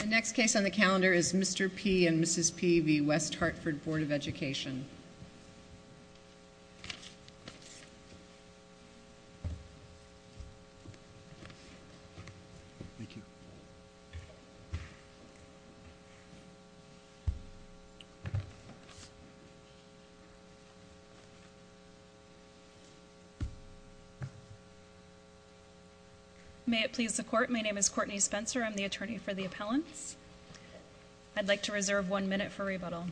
The next case on the calendar is Mr. P. v. Mrs. P. v. West Hartford Board of Education. Thank you. May it please the court, my name is Courtney Spencer. I'm the attorney for the appellants. I'd like to reserve one minute for rebuttal.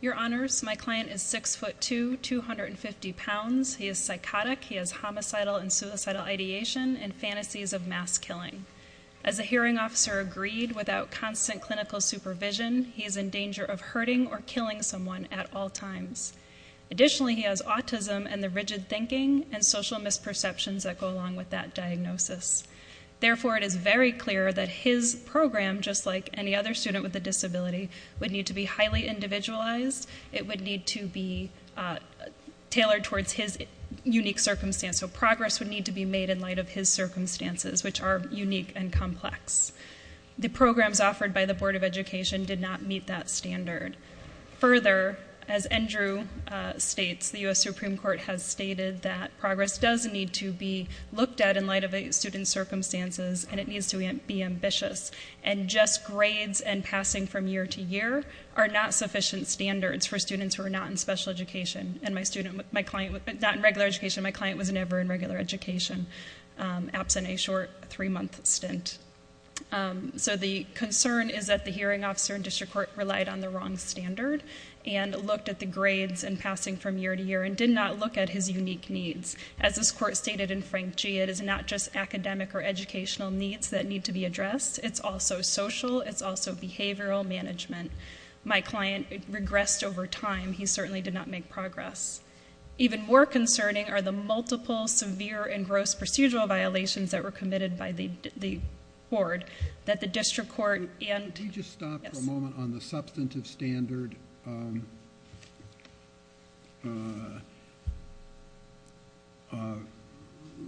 Your honors, my client is 6'2", 250 pounds. He is psychotic. He has homicidal and suicidal ideation and fantasies of mass killing. As a hearing officer agreed, without constant clinical supervision, he is in danger of hurting or killing someone at all times. Additionally, he has autism and the rigid thinking and social misperceptions that go along with that diagnosis. Therefore, it is very clear that his program, just like any other student with a disability, would need to be highly individualized. It would need to be tailored towards his unique circumstance. So progress would need to be made in light of his circumstances, which are unique and complex. The programs offered by the Board of Education did not meet that standard. Further, as Andrew states, the U.S. Supreme Court has stated that progress does need to be looked at in light of a student's circumstances. And it needs to be ambitious. And just grades and passing from year to year are not sufficient standards for students who are not in special education. And my client was not in regular education. My client was never in regular education, absent a short three-month stint. So the concern is that the hearing officer in district court relied on the wrong standard and looked at the grades and passing from year to year and did not look at his unique needs. As this court stated in Frank G., it is not just academic or educational needs that need to be addressed. It's also social. It's also behavioral management. My client regressed over time. He certainly did not make progress. Even more concerning are the multiple severe and gross procedural violations that were committed by the board that the district court and- Could you just stop for a moment on the substantive standard?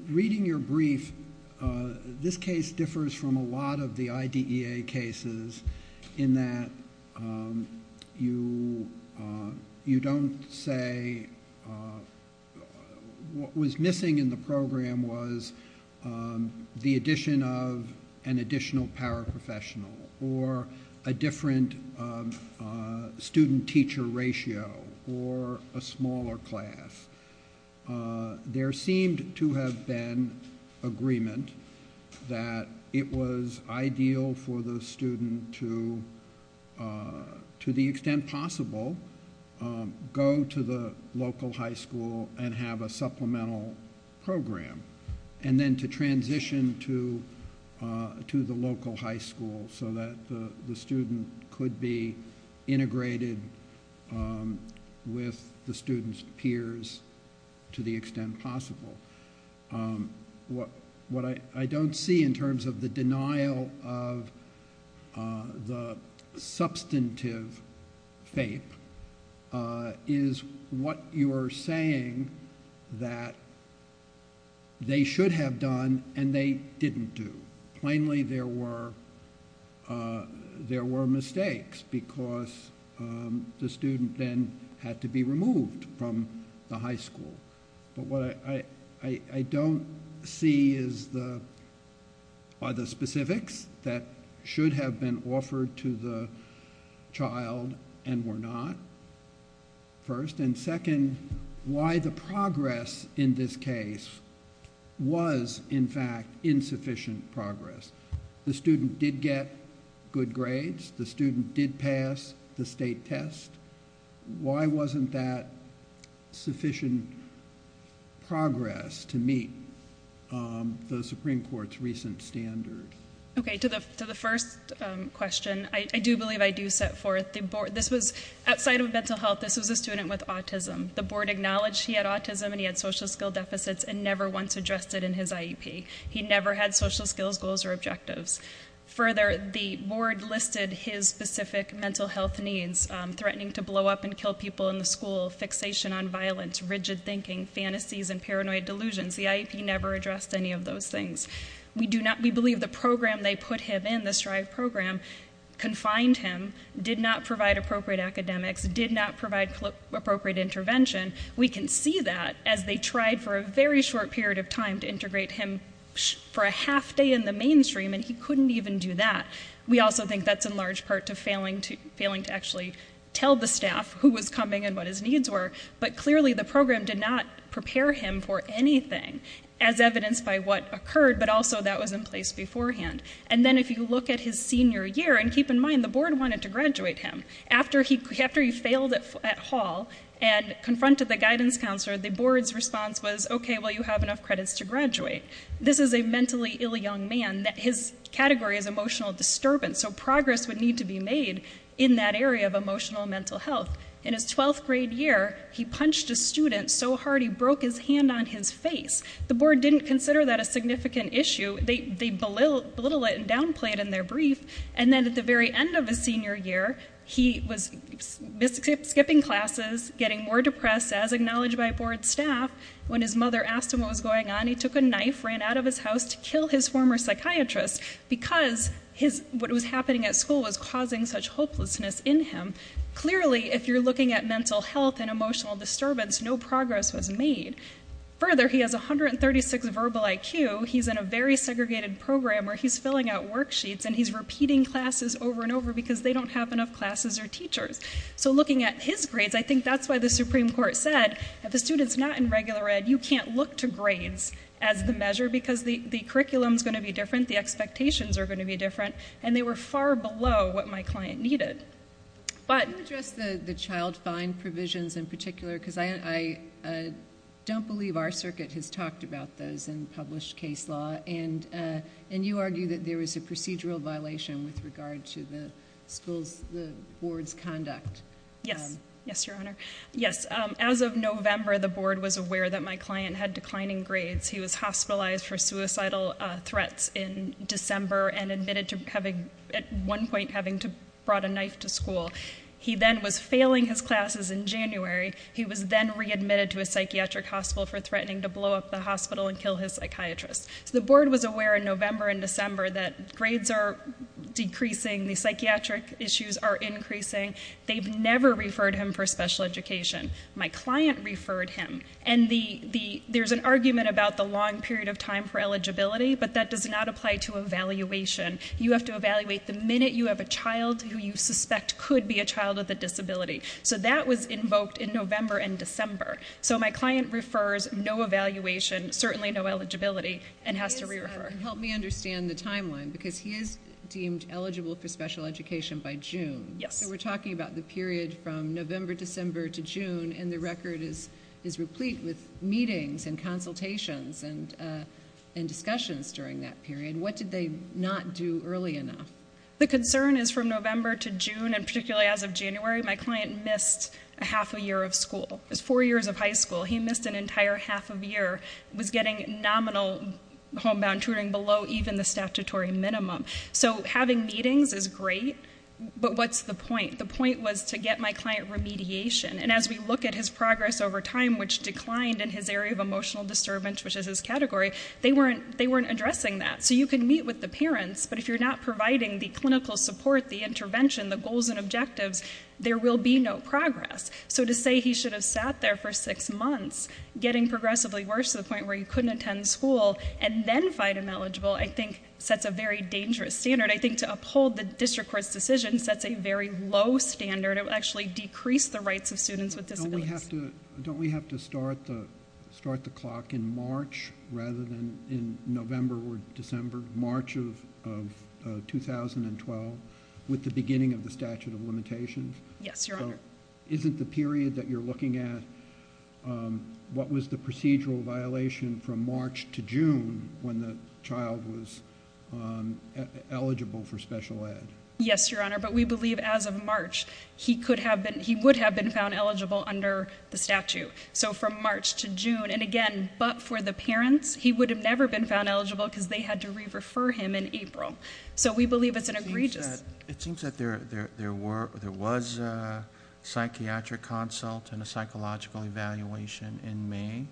Reading your brief, this case differs from a lot of the IDEA cases in that you don't say what was missing in the program was the addition of an additional paraprofessional or a different student-teacher ratio or a smaller class. There seemed to have been agreement that it was ideal for the student to, to the extent possible, go to the local high school and have a supplemental program and then to transition to the local high school so that the student could be integrated with the student's peers to the extent possible. What I don't see in terms of the denial of the substantive FAPE is what you are saying that they should have done and they didn't do. Plainly, there were mistakes because the student then had to be removed from the high school. What I don't see are the specifics that should have been offered to the child and were not, first. Second, why the progress in this case was, in fact, insufficient progress. The student did get good grades. The student did pass the state test. Why wasn't that sufficient progress to meet the Supreme Court's recent standard? Okay, to the first question, I do believe I do set forth the board. This was, outside of mental health, this was a student with autism. The board acknowledged he had autism and he had social skill deficits and never once addressed it in his IEP. He never had social skills, goals, or objectives. Further, the board listed his specific mental health needs, threatening to blow up and kill people in the school, fixation on violence, rigid thinking, fantasies, and paranoid delusions. The IEP never addressed any of those things. We believe the program they put him in, the STRIVE program, confined him, did not provide appropriate academics, did not provide appropriate intervention. We can see that as they tried for a very short period of time to integrate him for a half day in the mainstream and he couldn't even do that. We also think that's in large part to failing to actually tell the staff who was coming and what his needs were, but clearly the program did not prepare him for anything, as evidenced by what occurred, but also that was in place beforehand. And then if you look at his senior year, and keep in mind, the board wanted to graduate him. After he failed at hall and confronted the guidance counselor, the board's response was, okay, well, you have enough credits to graduate. This is a mentally ill young man. His category is emotional disturbance, so progress would need to be made in that area of emotional and mental health. In his 12th grade year, he punched a student so hard he broke his hand on his face. The board didn't consider that a significant issue. They belittle it and downplay it in their brief. And then at the very end of his senior year, he was skipping classes, getting more depressed, as acknowledged by board staff. When his mother asked him what was going on, he took a knife, ran out of his house to kill his former psychiatrist because what was happening at school was causing such hopelessness in him. Clearly, if you're looking at mental health and emotional disturbance, no progress was made. Further, he has 136 verbal IQ. He's in a very segregated program where he's filling out worksheets, and he's repeating classes over and over because they don't have enough classes or teachers. So looking at his grades, I think that's why the Supreme Court said, if a student's not in regular ed, you can't look to grades as the measure because the curriculum's going to be different, the expectations are going to be different, and they were far below what my client needed. Can you address the child fine provisions in particular? Because I don't believe our circuit has talked about those in published case law, and you argue that there is a procedural violation with regard to the school's board's conduct. Yes. Yes, Your Honor. Yes, as of November, the board was aware that my client had declining grades. He was hospitalized for suicidal threats in December and admitted to at one point having brought a knife to school. He then was failing his classes in January. He was then readmitted to a psychiatric hospital for threatening to blow up the hospital and kill his psychiatrist. The board was aware in November and December that grades are decreasing, the psychiatric issues are increasing. They've never referred him for special education. My client referred him. And there's an argument about the long period of time for eligibility, but that does not apply to evaluation. You have to evaluate the minute you have a child who you suspect could be a child with a disability. So that was invoked in November and December. So my client refers no evaluation, certainly no eligibility, and has to re-refer. Help me understand the timeline, because he is deemed eligible for special education by June. Yes. So we're talking about the period from November, December to June, and the record is replete with meetings and consultations and discussions during that period. What did they not do early enough? The concern is from November to June, and particularly as of January, my client missed half a year of school. It was four years of high school. He missed an entire half of a year. He was getting nominal homebound tutoring below even the statutory minimum. So having meetings is great, but what's the point? The point was to get my client remediation. And as we look at his progress over time, which declined in his area of emotional disturbance, which is his category, they weren't addressing that. So you can meet with the parents, but if you're not providing the clinical support, the intervention, the goals and objectives, there will be no progress. So to say he should have sat there for six months, getting progressively worse to the point where he couldn't attend school, and then find him eligible I think sets a very dangerous standard. I think to uphold the district court's decision sets a very low standard. It will actually decrease the rights of students with disabilities. Don't we have to start the clock in March rather than in November or December, or March of 2012 with the beginning of the statute of limitations? Yes, Your Honor. Isn't the period that you're looking at what was the procedural violation from March to June when the child was eligible for special ed? Yes, Your Honor, but we believe as of March he would have been found eligible under the statute. So from March to June, and again, but for the parents, he would have never been found eligible because they had to re-refer him in April. So we believe it's an egregious. It seems that there was a psychiatric consult and a psychological evaluation in May,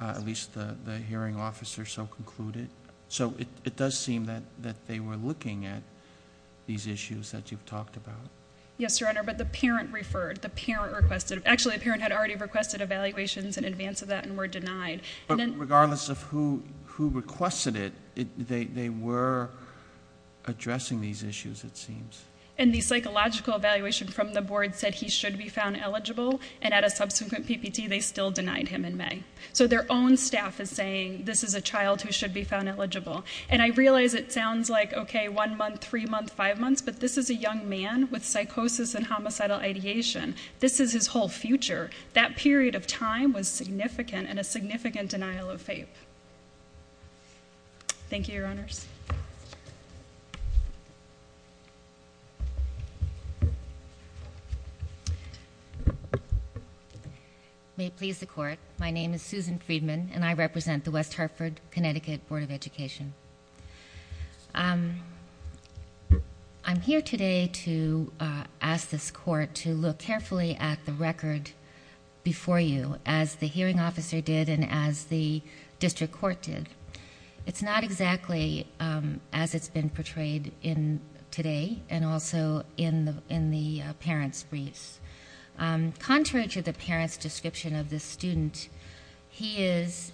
at least the hearing officer so concluded. So it does seem that they were looking at these issues that you've talked about. Yes, Your Honor, but the parent referred, the parent requested. Actually, the parent had already requested evaluations in advance of that and were denied. But regardless of who requested it, they were addressing these issues, it seems. And the psychological evaluation from the board said he should be found eligible, and at a subsequent PPT they still denied him in May. So their own staff is saying this is a child who should be found eligible. And I realize it sounds like, okay, one month, three months, five months, but this is a young man with psychosis and homicidal ideation. This is his whole future. That period of time was significant and a significant denial of faith. Thank you, Your Honors. May it please the Court, my name is Susan Friedman, and I represent the West Hartford, Connecticut Board of Education. I'm here today to ask this Court to look carefully at the record before you, as the hearing officer did and as the district court did. It's not exactly as it's been portrayed today and also in the parent's briefs. Contrary to the parent's description of this student, he is,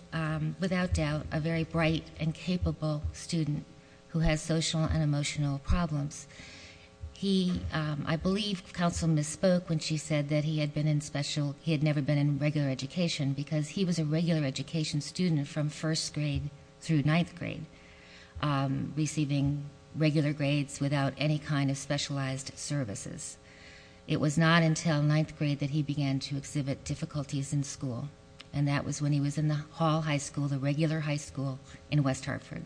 without doubt, a very bright and capable student who has social and emotional problems. I believe counsel misspoke when she said that he had never been in regular education because he was a regular education student from first grade through ninth grade, receiving regular grades without any kind of specialized services. It was not until ninth grade that he began to exhibit difficulties in school, and that was when he was in the Hall High School, the regular high school in West Hartford.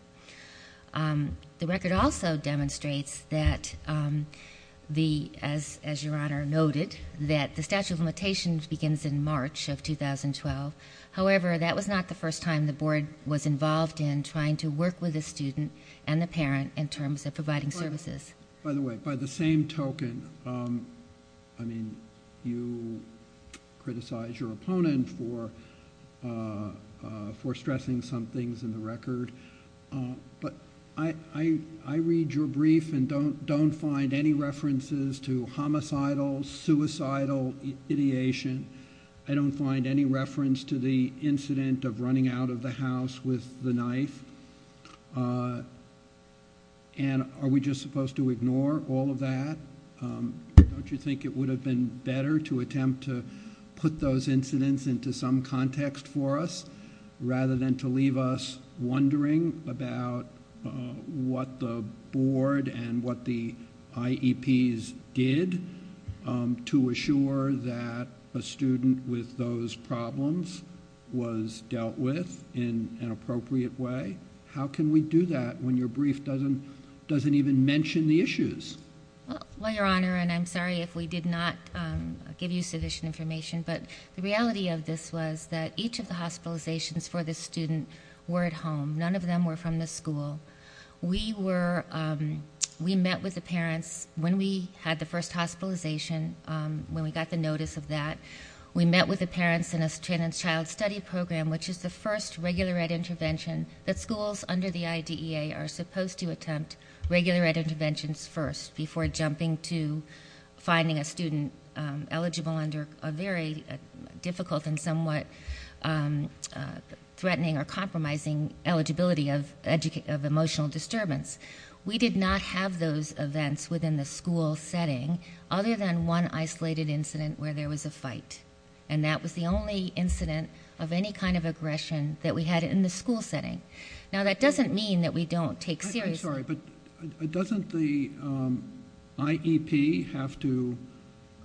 The record also demonstrates that, as Your Honor noted, that the statute of limitations begins in March of 2012. However, that was not the first time the board was involved in trying to work with the student and the parent in terms of providing services. By the way, by the same token, you criticized your opponent for stressing some things in the record, but I read your brief and don't find any references to homicidal, suicidal ideation. I don't find any reference to the incident of running out of the house with the knife. And are we just supposed to ignore all of that? Don't you think it would have been better to attempt to put those incidents into some context for us rather than to leave us wondering about what the board and what the IEPs did to assure that a student with those problems was dealt with in an appropriate way? How can we do that when your brief doesn't even mention the issues? Well, Your Honor, and I'm sorry if we did not give you sufficient information, but the reality of this was that each of the hospitalizations for this student were at home. None of them were from the school. We met with the parents when we had the first hospitalization, when we got the notice of that. We met with the parents in a child study program, which is the first regular ed intervention that schools under the IDEA are supposed to attempt regular ed interventions first before jumping to finding a student eligible under a very difficult and somewhat threatening or compromising eligibility of emotional disturbance. We did not have those events within the school setting other than one isolated incident where there was a fight, and that was the only incident of any kind of aggression that we had in the school setting. Now, that doesn't mean that we don't take seriously— I'm sorry, but doesn't the IEP have to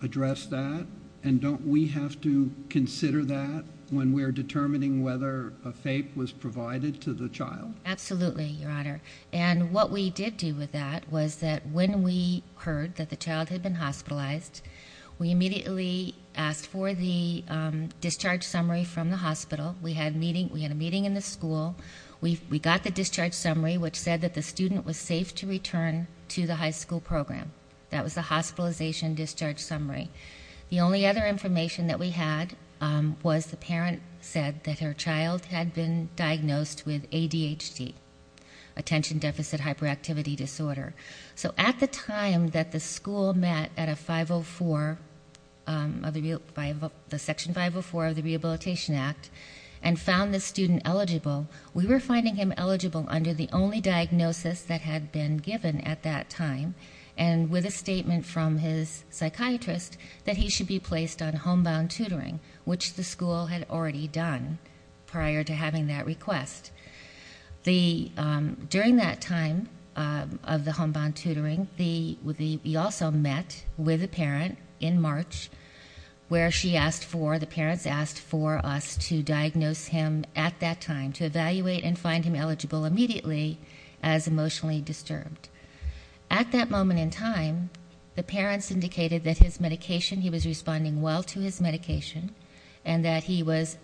address that, and don't we have to consider that when we're determining whether a FAPE was provided to the child? Absolutely, Your Honor, and what we did do with that was that when we heard that the child had been hospitalized, we immediately asked for the discharge summary from the hospital. We had a meeting in the school. We got the discharge summary, which said that the student was safe to return to the high school program. That was the hospitalization discharge summary. The only other information that we had was the parent said that her child had been diagnosed with ADHD, attention deficit hyperactivity disorder. So at the time that the school met at Section 504 of the Rehabilitation Act and found the student eligible, we were finding him eligible under the only diagnosis that had been given at that time, and with a statement from his psychiatrist that he should be placed on homebound tutoring, which the school had already done prior to having that request. During that time of the homebound tutoring, we also met with the parent in March, where the parents asked for us to diagnose him at that time, to evaluate and find him eligible immediately as emotionally disturbed. At that moment in time, the parents indicated that his medication, he was responding well to his medication, and that he was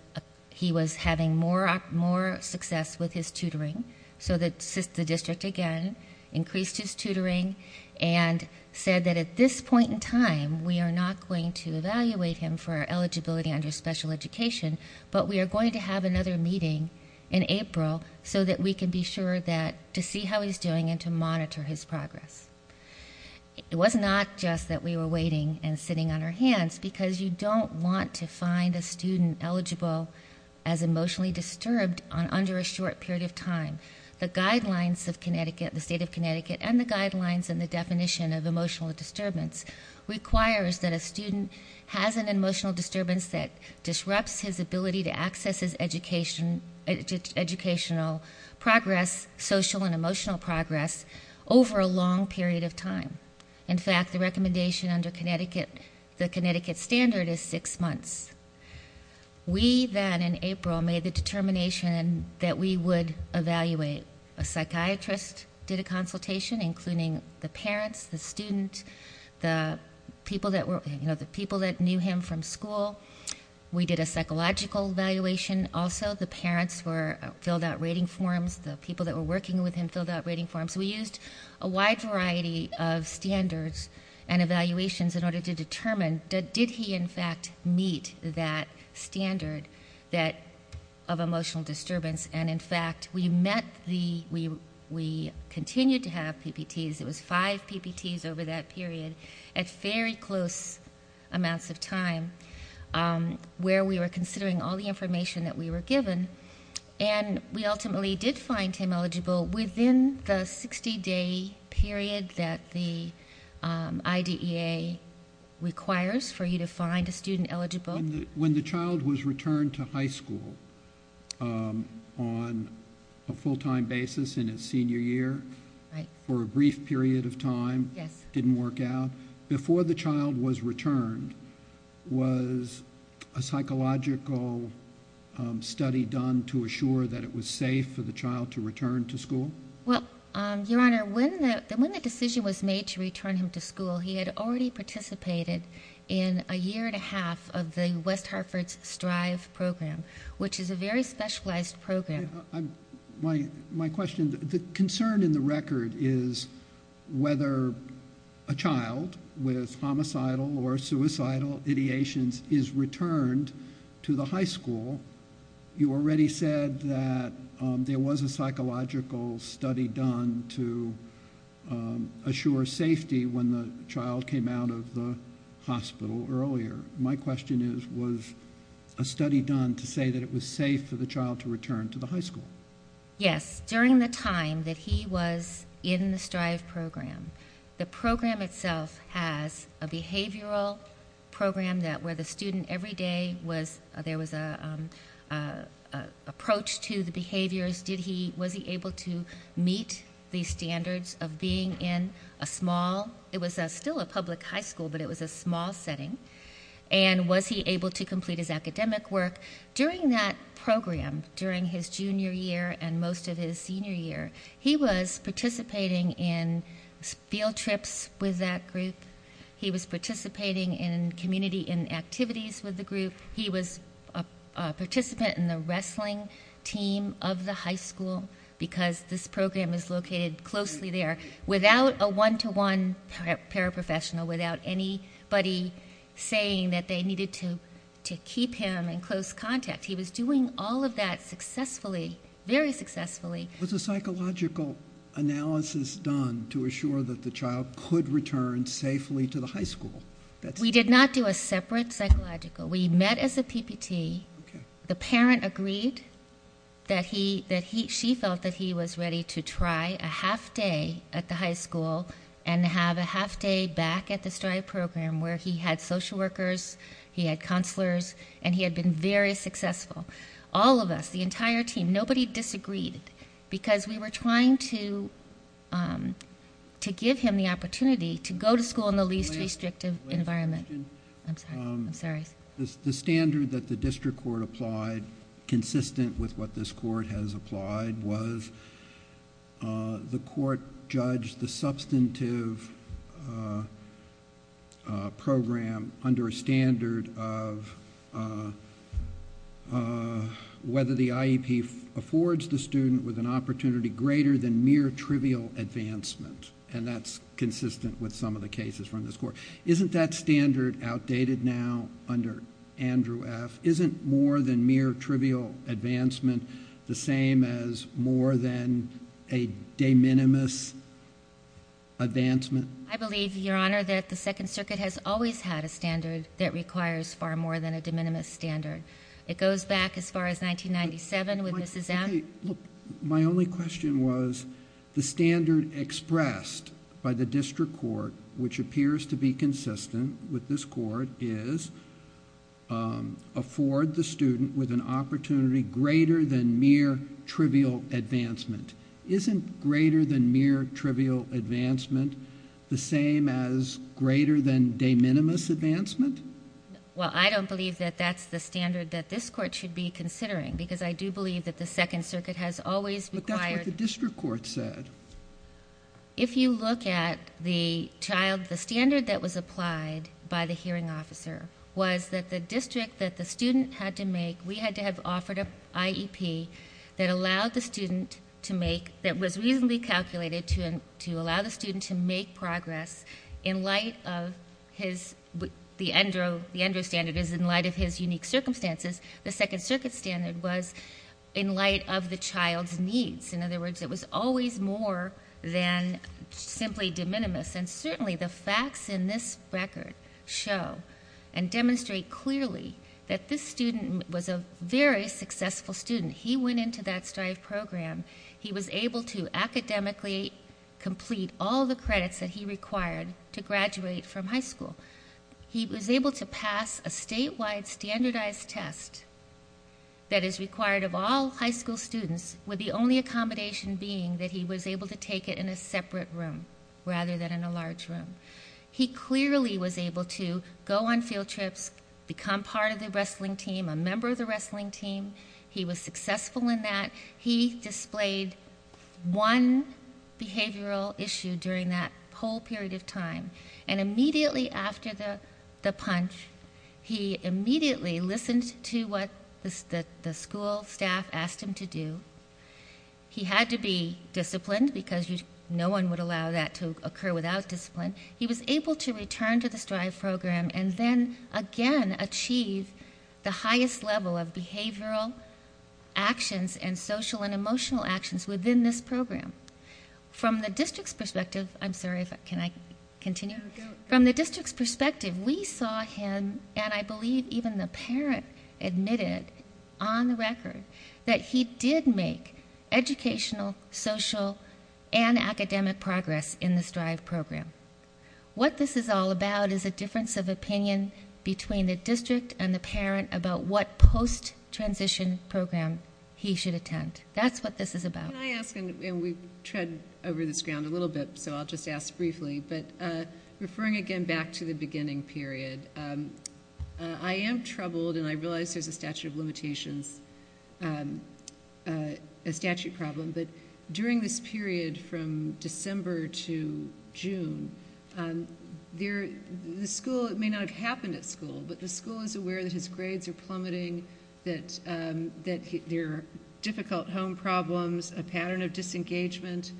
having more success with his tutoring. So the district, again, increased his tutoring and said that at this point in time, we are not going to evaluate him for eligibility under special education, but we are going to have another meeting in April, so that we can be sure to see how he's doing and to monitor his progress. It was not just that we were waiting and sitting on our hands, because you don't want to find a student eligible as emotionally disturbed under a short period of time. The guidelines of Connecticut, the state of Connecticut, and the guidelines and the definition of emotional disturbance requires that a student has an emotional disturbance that disrupts his ability to access his educational progress, social and emotional progress, over a long period of time. In fact, the recommendation under the Connecticut standard is six months. We then, in April, made the determination that we would evaluate. A psychiatrist did a consultation, including the parents, the student, the people that knew him from school. We did a psychological evaluation also. The parents filled out rating forms. The people that were working with him filled out rating forms. We used a wide variety of standards and evaluations in order to determine, did he, in fact, meet that standard of emotional disturbance? And, in fact, we continued to have PPTs. It was five PPTs over that period at very close amounts of time, where we were considering all the information that we were given, and we ultimately did find him eligible within the 60-day period that the IDEA requires for you to find a student eligible. When the child was returned to high school on a full-time basis in his senior year, for a brief period of time, it didn't work out. Before the child was returned, was a psychological study done to assure that it was safe for the child to return to school? Well, Your Honor, when the decision was made to return him to school, he had already participated in a year and a half of the West Hartford STRIVE program, which is a very specialized program. My question, the concern in the record is whether a child with homicidal or suicidal ideations is returned to the high school. You already said that there was a psychological study done to assure safety when the child came out of the hospital earlier. My question is, was a study done to say that it was safe for the child to return to the high school? Yes, during the time that he was in the STRIVE program. The program itself has a behavioral program where the student, every day, there was an approach to the behaviors. Was he able to meet the standards of being in a small, it was still a public high school, but it was a small setting, and was he able to complete his academic work? During that program, during his junior year and most of his senior year, he was participating in field trips with that group. He was a participant in the wrestling team of the high school, because this program is located closely there, without a one-to-one paraprofessional, without anybody saying that they needed to keep him in close contact. He was doing all of that successfully, very successfully. Was a psychological analysis done to assure that the child could return safely to the high school? We did not do a separate psychological. We met as a PPT. The parent agreed that she felt that he was ready to try a half day at the high school and have a half day back at the STRIVE program where he had social workers, he had counselors, and he had been very successful. All of us, the entire team, nobody disagreed, because we were trying to give him the opportunity to go to school in the least restrictive environment. The standard that the district court applied, consistent with what this court has applied, was the court judged the substantive program under a standard of whether the IEP affords the student with an opportunity greater than mere trivial advancement. That's consistent with some of the cases from this court. Isn't that standard outdated now under Andrew F.? Isn't more than mere trivial advancement the same as more than a de minimis advancement? I believe, Your Honor, that the Second Circuit has always had a standard that requires far more than a de minimis standard. It goes back as far as 1997 with Mrs. M. My only question was the standard expressed by the district court, which appears to be consistent with this court, is afford the student with an opportunity greater than mere trivial advancement. Isn't greater than mere trivial advancement the same as greater than de minimis advancement? Well, I don't believe that that's the standard that this court should be considering, because I do believe that the Second Circuit has always required... But that's what the district court said. If you look at the child, the standard that was applied by the hearing officer was that the district, that the student had to make... we had to have offered an IEP that allowed the student to make... that was reasonably calculated to allow the student to make progress in light of his... in light of the child's needs. In other words, it was always more than simply de minimis. And certainly the facts in this record show and demonstrate clearly that this student was a very successful student. He went into that STRIVE program. He was able to academically complete all the credits that he required to graduate from high school. He was able to pass a statewide standardized test that is required of all high school students... with the only accommodation being that he was able to take it in a separate room, rather than in a large room. He clearly was able to go on field trips, become part of the wrestling team, a member of the wrestling team. He was successful in that. He displayed one behavioral issue during that whole period of time. And immediately after the punch, he immediately listened to what the school staff asked him to do. He had to be disciplined because no one would allow that to occur without discipline. He was able to return to the STRIVE program and then again achieve the highest level of behavioral actions... and social and emotional actions within this program. From the district's perspective, I'm sorry, can I continue? From the district's perspective, we saw him and I believe even the parent admitted on the record... that he did make educational, social and academic progress in the STRIVE program. What this is all about is a difference of opinion between the district and the parent... about what post-transition program he should attend. That's what this is about. Can I ask, and we've tread over this ground a little bit, so I'll just ask briefly. But, referring again back to the beginning period, I am troubled and I realize there's a statute of limitations... a statute problem, but during this period from December to June, the school... it may not have happened at school, but the school is aware that his grades are plummeting... that there are difficult home problems, a pattern of disengagement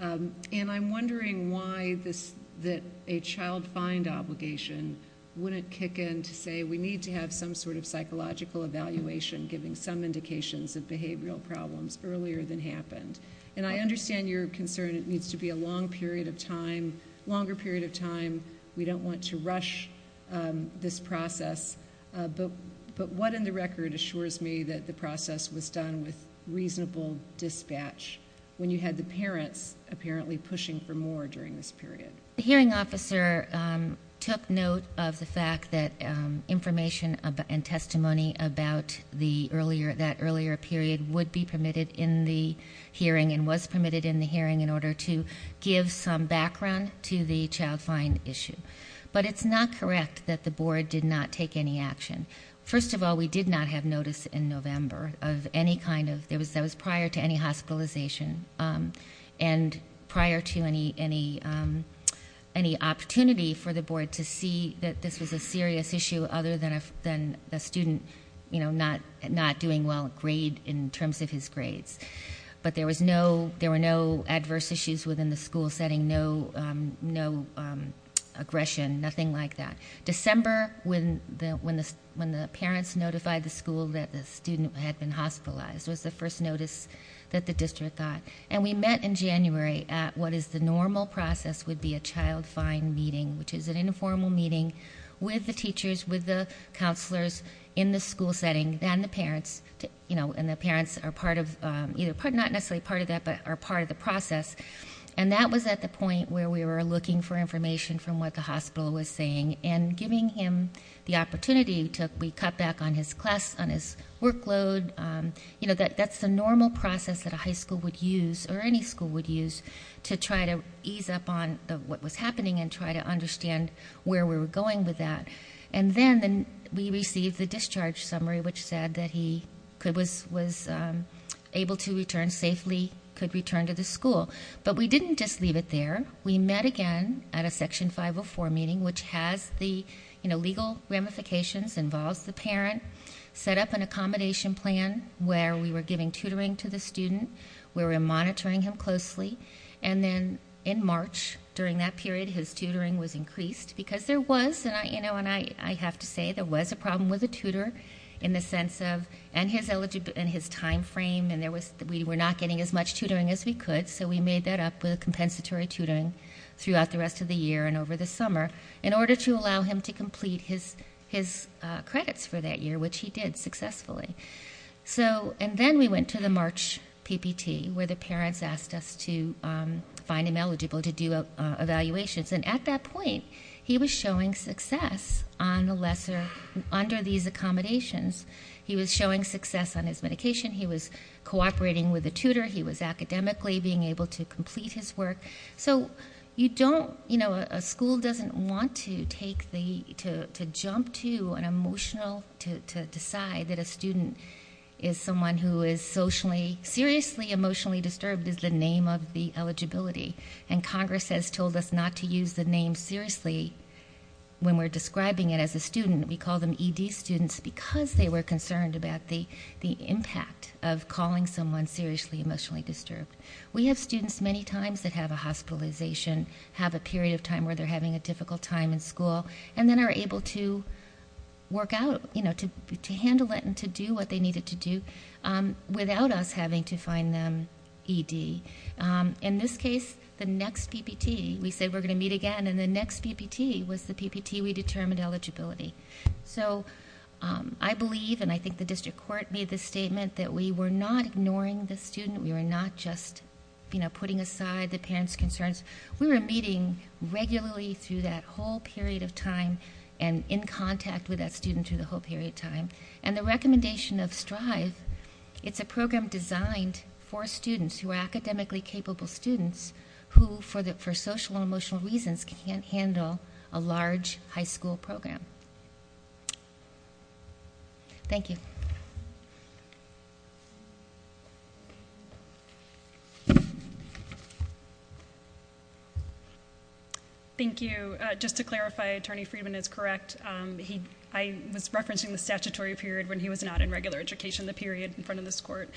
and I'm wondering why this... that a child find obligation wouldn't kick in to say we need to have some sort of psychological evaluation... giving some indications of behavioral problems earlier than happened. And, I understand your concern. It needs to be a long period of time, longer period of time. We don't want to rush this process. But, what in the record assures me that the process was done with reasonable dispatch... when you had the parents apparently pushing for more during this period? The hearing officer took note of the fact that information and testimony about the earlier... that earlier period would be permitted in the hearing and was permitted in the hearing... But, it's not correct that the board did not take any action. First of all, we did not have notice in November of any kind of... that was prior to any hospitalization and prior to any opportunity for the board to see... that this was a serious issue other than a student, you know, not doing well in grade... in terms of his grades. But, there was no... there were no adverse issues within the school setting. No aggression, nothing like that. December, when the parents notified the school that the student had been hospitalized... was the first notice that the district got. And, we met in January at what is the normal process would be a child find meeting... which is an informal meeting with the teachers, with the counselors in the school setting... Then, the parents, you know, and the parents are part of... not necessarily part of that, but are part of the process. And, that was at the point where we were looking for information from what the hospital was saying... and giving him the opportunity to... we cut back on his class, on his workload. You know, that's the normal process that a high school would use or any school would use... to try to ease up on what was happening and try to understand where we were going with that. And then, we received the discharge summary, which said that he was able to return safely... could return to the school. But, we didn't just leave it there. We met again at a Section 504 meeting, which has the, you know, legal ramifications... involves the parent, set up an accommodation plan where we were giving tutoring to the student. We were monitoring him closely. And then, in March, during that period, his tutoring was increased because there was... you know, and I have to say, there was a problem with the tutor, in the sense of... and his eligible... and his time frame. And, there was... we were not getting as much tutoring as we could. So, we made that up with a compensatory tutoring, throughout the rest of the year and over the summer... in order to allow him to complete his credits for that year, which he did successfully. So, and then we went to the March PPT, where the parents asked us to find him eligible to do evaluations. And, at that point, he was showing success on the lesser... under these accommodations. He was showing success on his medication. He was cooperating with the tutor. He was academically being able to complete his work. So, you don't... you know, a school doesn't want to take the... to jump to an emotional... to decide that a student is someone who is socially, seriously, emotionally disturbed... is the name of the eligibility. And, Congress has told us not to use the name, seriously, when we're describing it as a student. We call them ED students, because they were concerned about the impact of calling someone seriously, emotionally disturbed. We have students, many times, that have a hospitalization... have a period of time, where they're having a difficult time in school... and then are able to work out, you know, to handle it and to do what they needed to do... without us having to find them ED. In this case, the next PPT, we said we're going to meet again. And, the next PPT was the PPT we determined eligibility. So, I believe and I think the District Court made the statement that we were not ignoring the student. We were not just, you know, putting aside the parent's concerns. We were meeting regularly through that whole period of time... and in contact with that student, through the whole period of time. And, the recommendation of STRIVE... It's a program designed for students, who are academically capable students... who, for social and emotional reasons, can't handle a large high school program. Thank you. Thank you. Just to clarify, Attorney Friedman is correct. He... I was referencing the statutory period when he was not in regular education... the period in front of this court.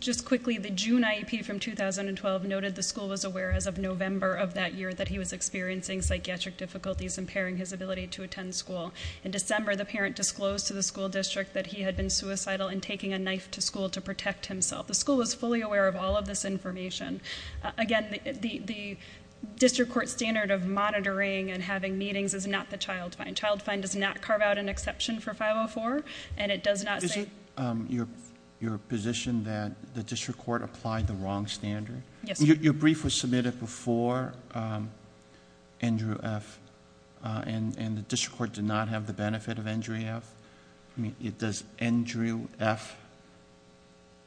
Just quickly, the June IEP from 2012 noted the school was aware as of November of that year... that he was experiencing psychiatric difficulties, impairing his ability to attend school. In December, the parent disclosed to the school district that he had been suicidal... and taking a knife to school to protect himself. The school was fully aware of all of this information. Again, the district court standard of monitoring and having meetings is not the child find. Child find does not carve out an exception for 504 and it does not say... Is it your position that the district court applied the wrong standard? Yes. Your brief was submitted before Andrew F... and the district court did not have the benefit of Andrew F... I mean, does Andrew F...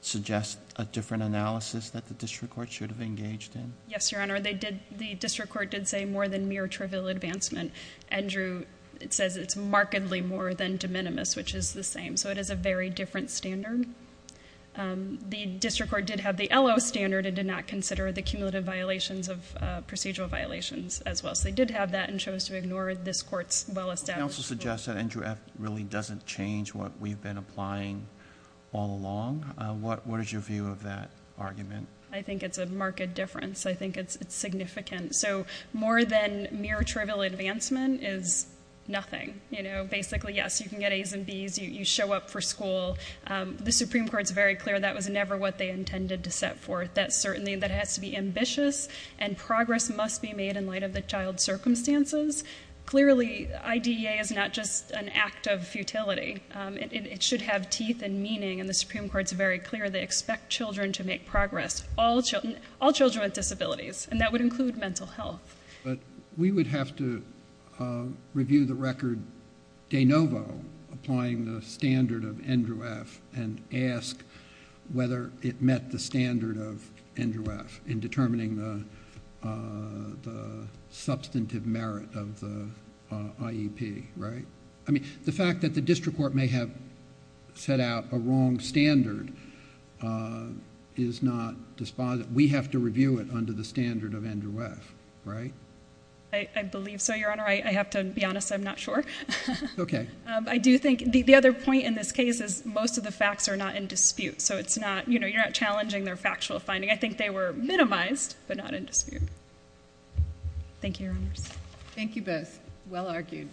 suggest a different analysis that the district court should have engaged in? Yes, Your Honor. They did... The district court did say more than mere trivial advancement. Andrew says it's markedly more than de minimis, which is the same. So, it is a very different standard. The district court did have the LO standard and did not consider the cumulative violations of procedural violations as well. So, they did have that and chose to ignore this court's well established... The counsel suggests that Andrew F... really doesn't change what we've been applying all along. What is your view of that argument? I think it's a marked difference. I think it's significant. So, more than mere trivial advancement is nothing. You know, basically, yes. You can get A's and B's. You show up for school. The Supreme Court is very clear that was never what they intended to set forth. That certainly... That has to be ambitious and progress must be made in light of the child's circumstances. Clearly, IDEA is not just an act of futility. It should have teeth and meaning. And, the Supreme Court is very clear. They expect children to make progress. All children... All children with disabilities. And, that would include mental health. But, we would have to review the record de novo, applying the standard of Andrew F... of the IEP, right? I mean, the fact that the district court may have set out a wrong standard is not dispos... We have to review it under the standard of Andrew F., right? I believe so, Your Honor. I have to be honest. I'm not sure. Okay. I do think... The other point in this case is most of the facts are not in dispute. So, it's not... You know, you're not challenging their factual finding. I think they were minimized, but not in dispute. Thank you, Your Honors. Thank you, both. Well argued.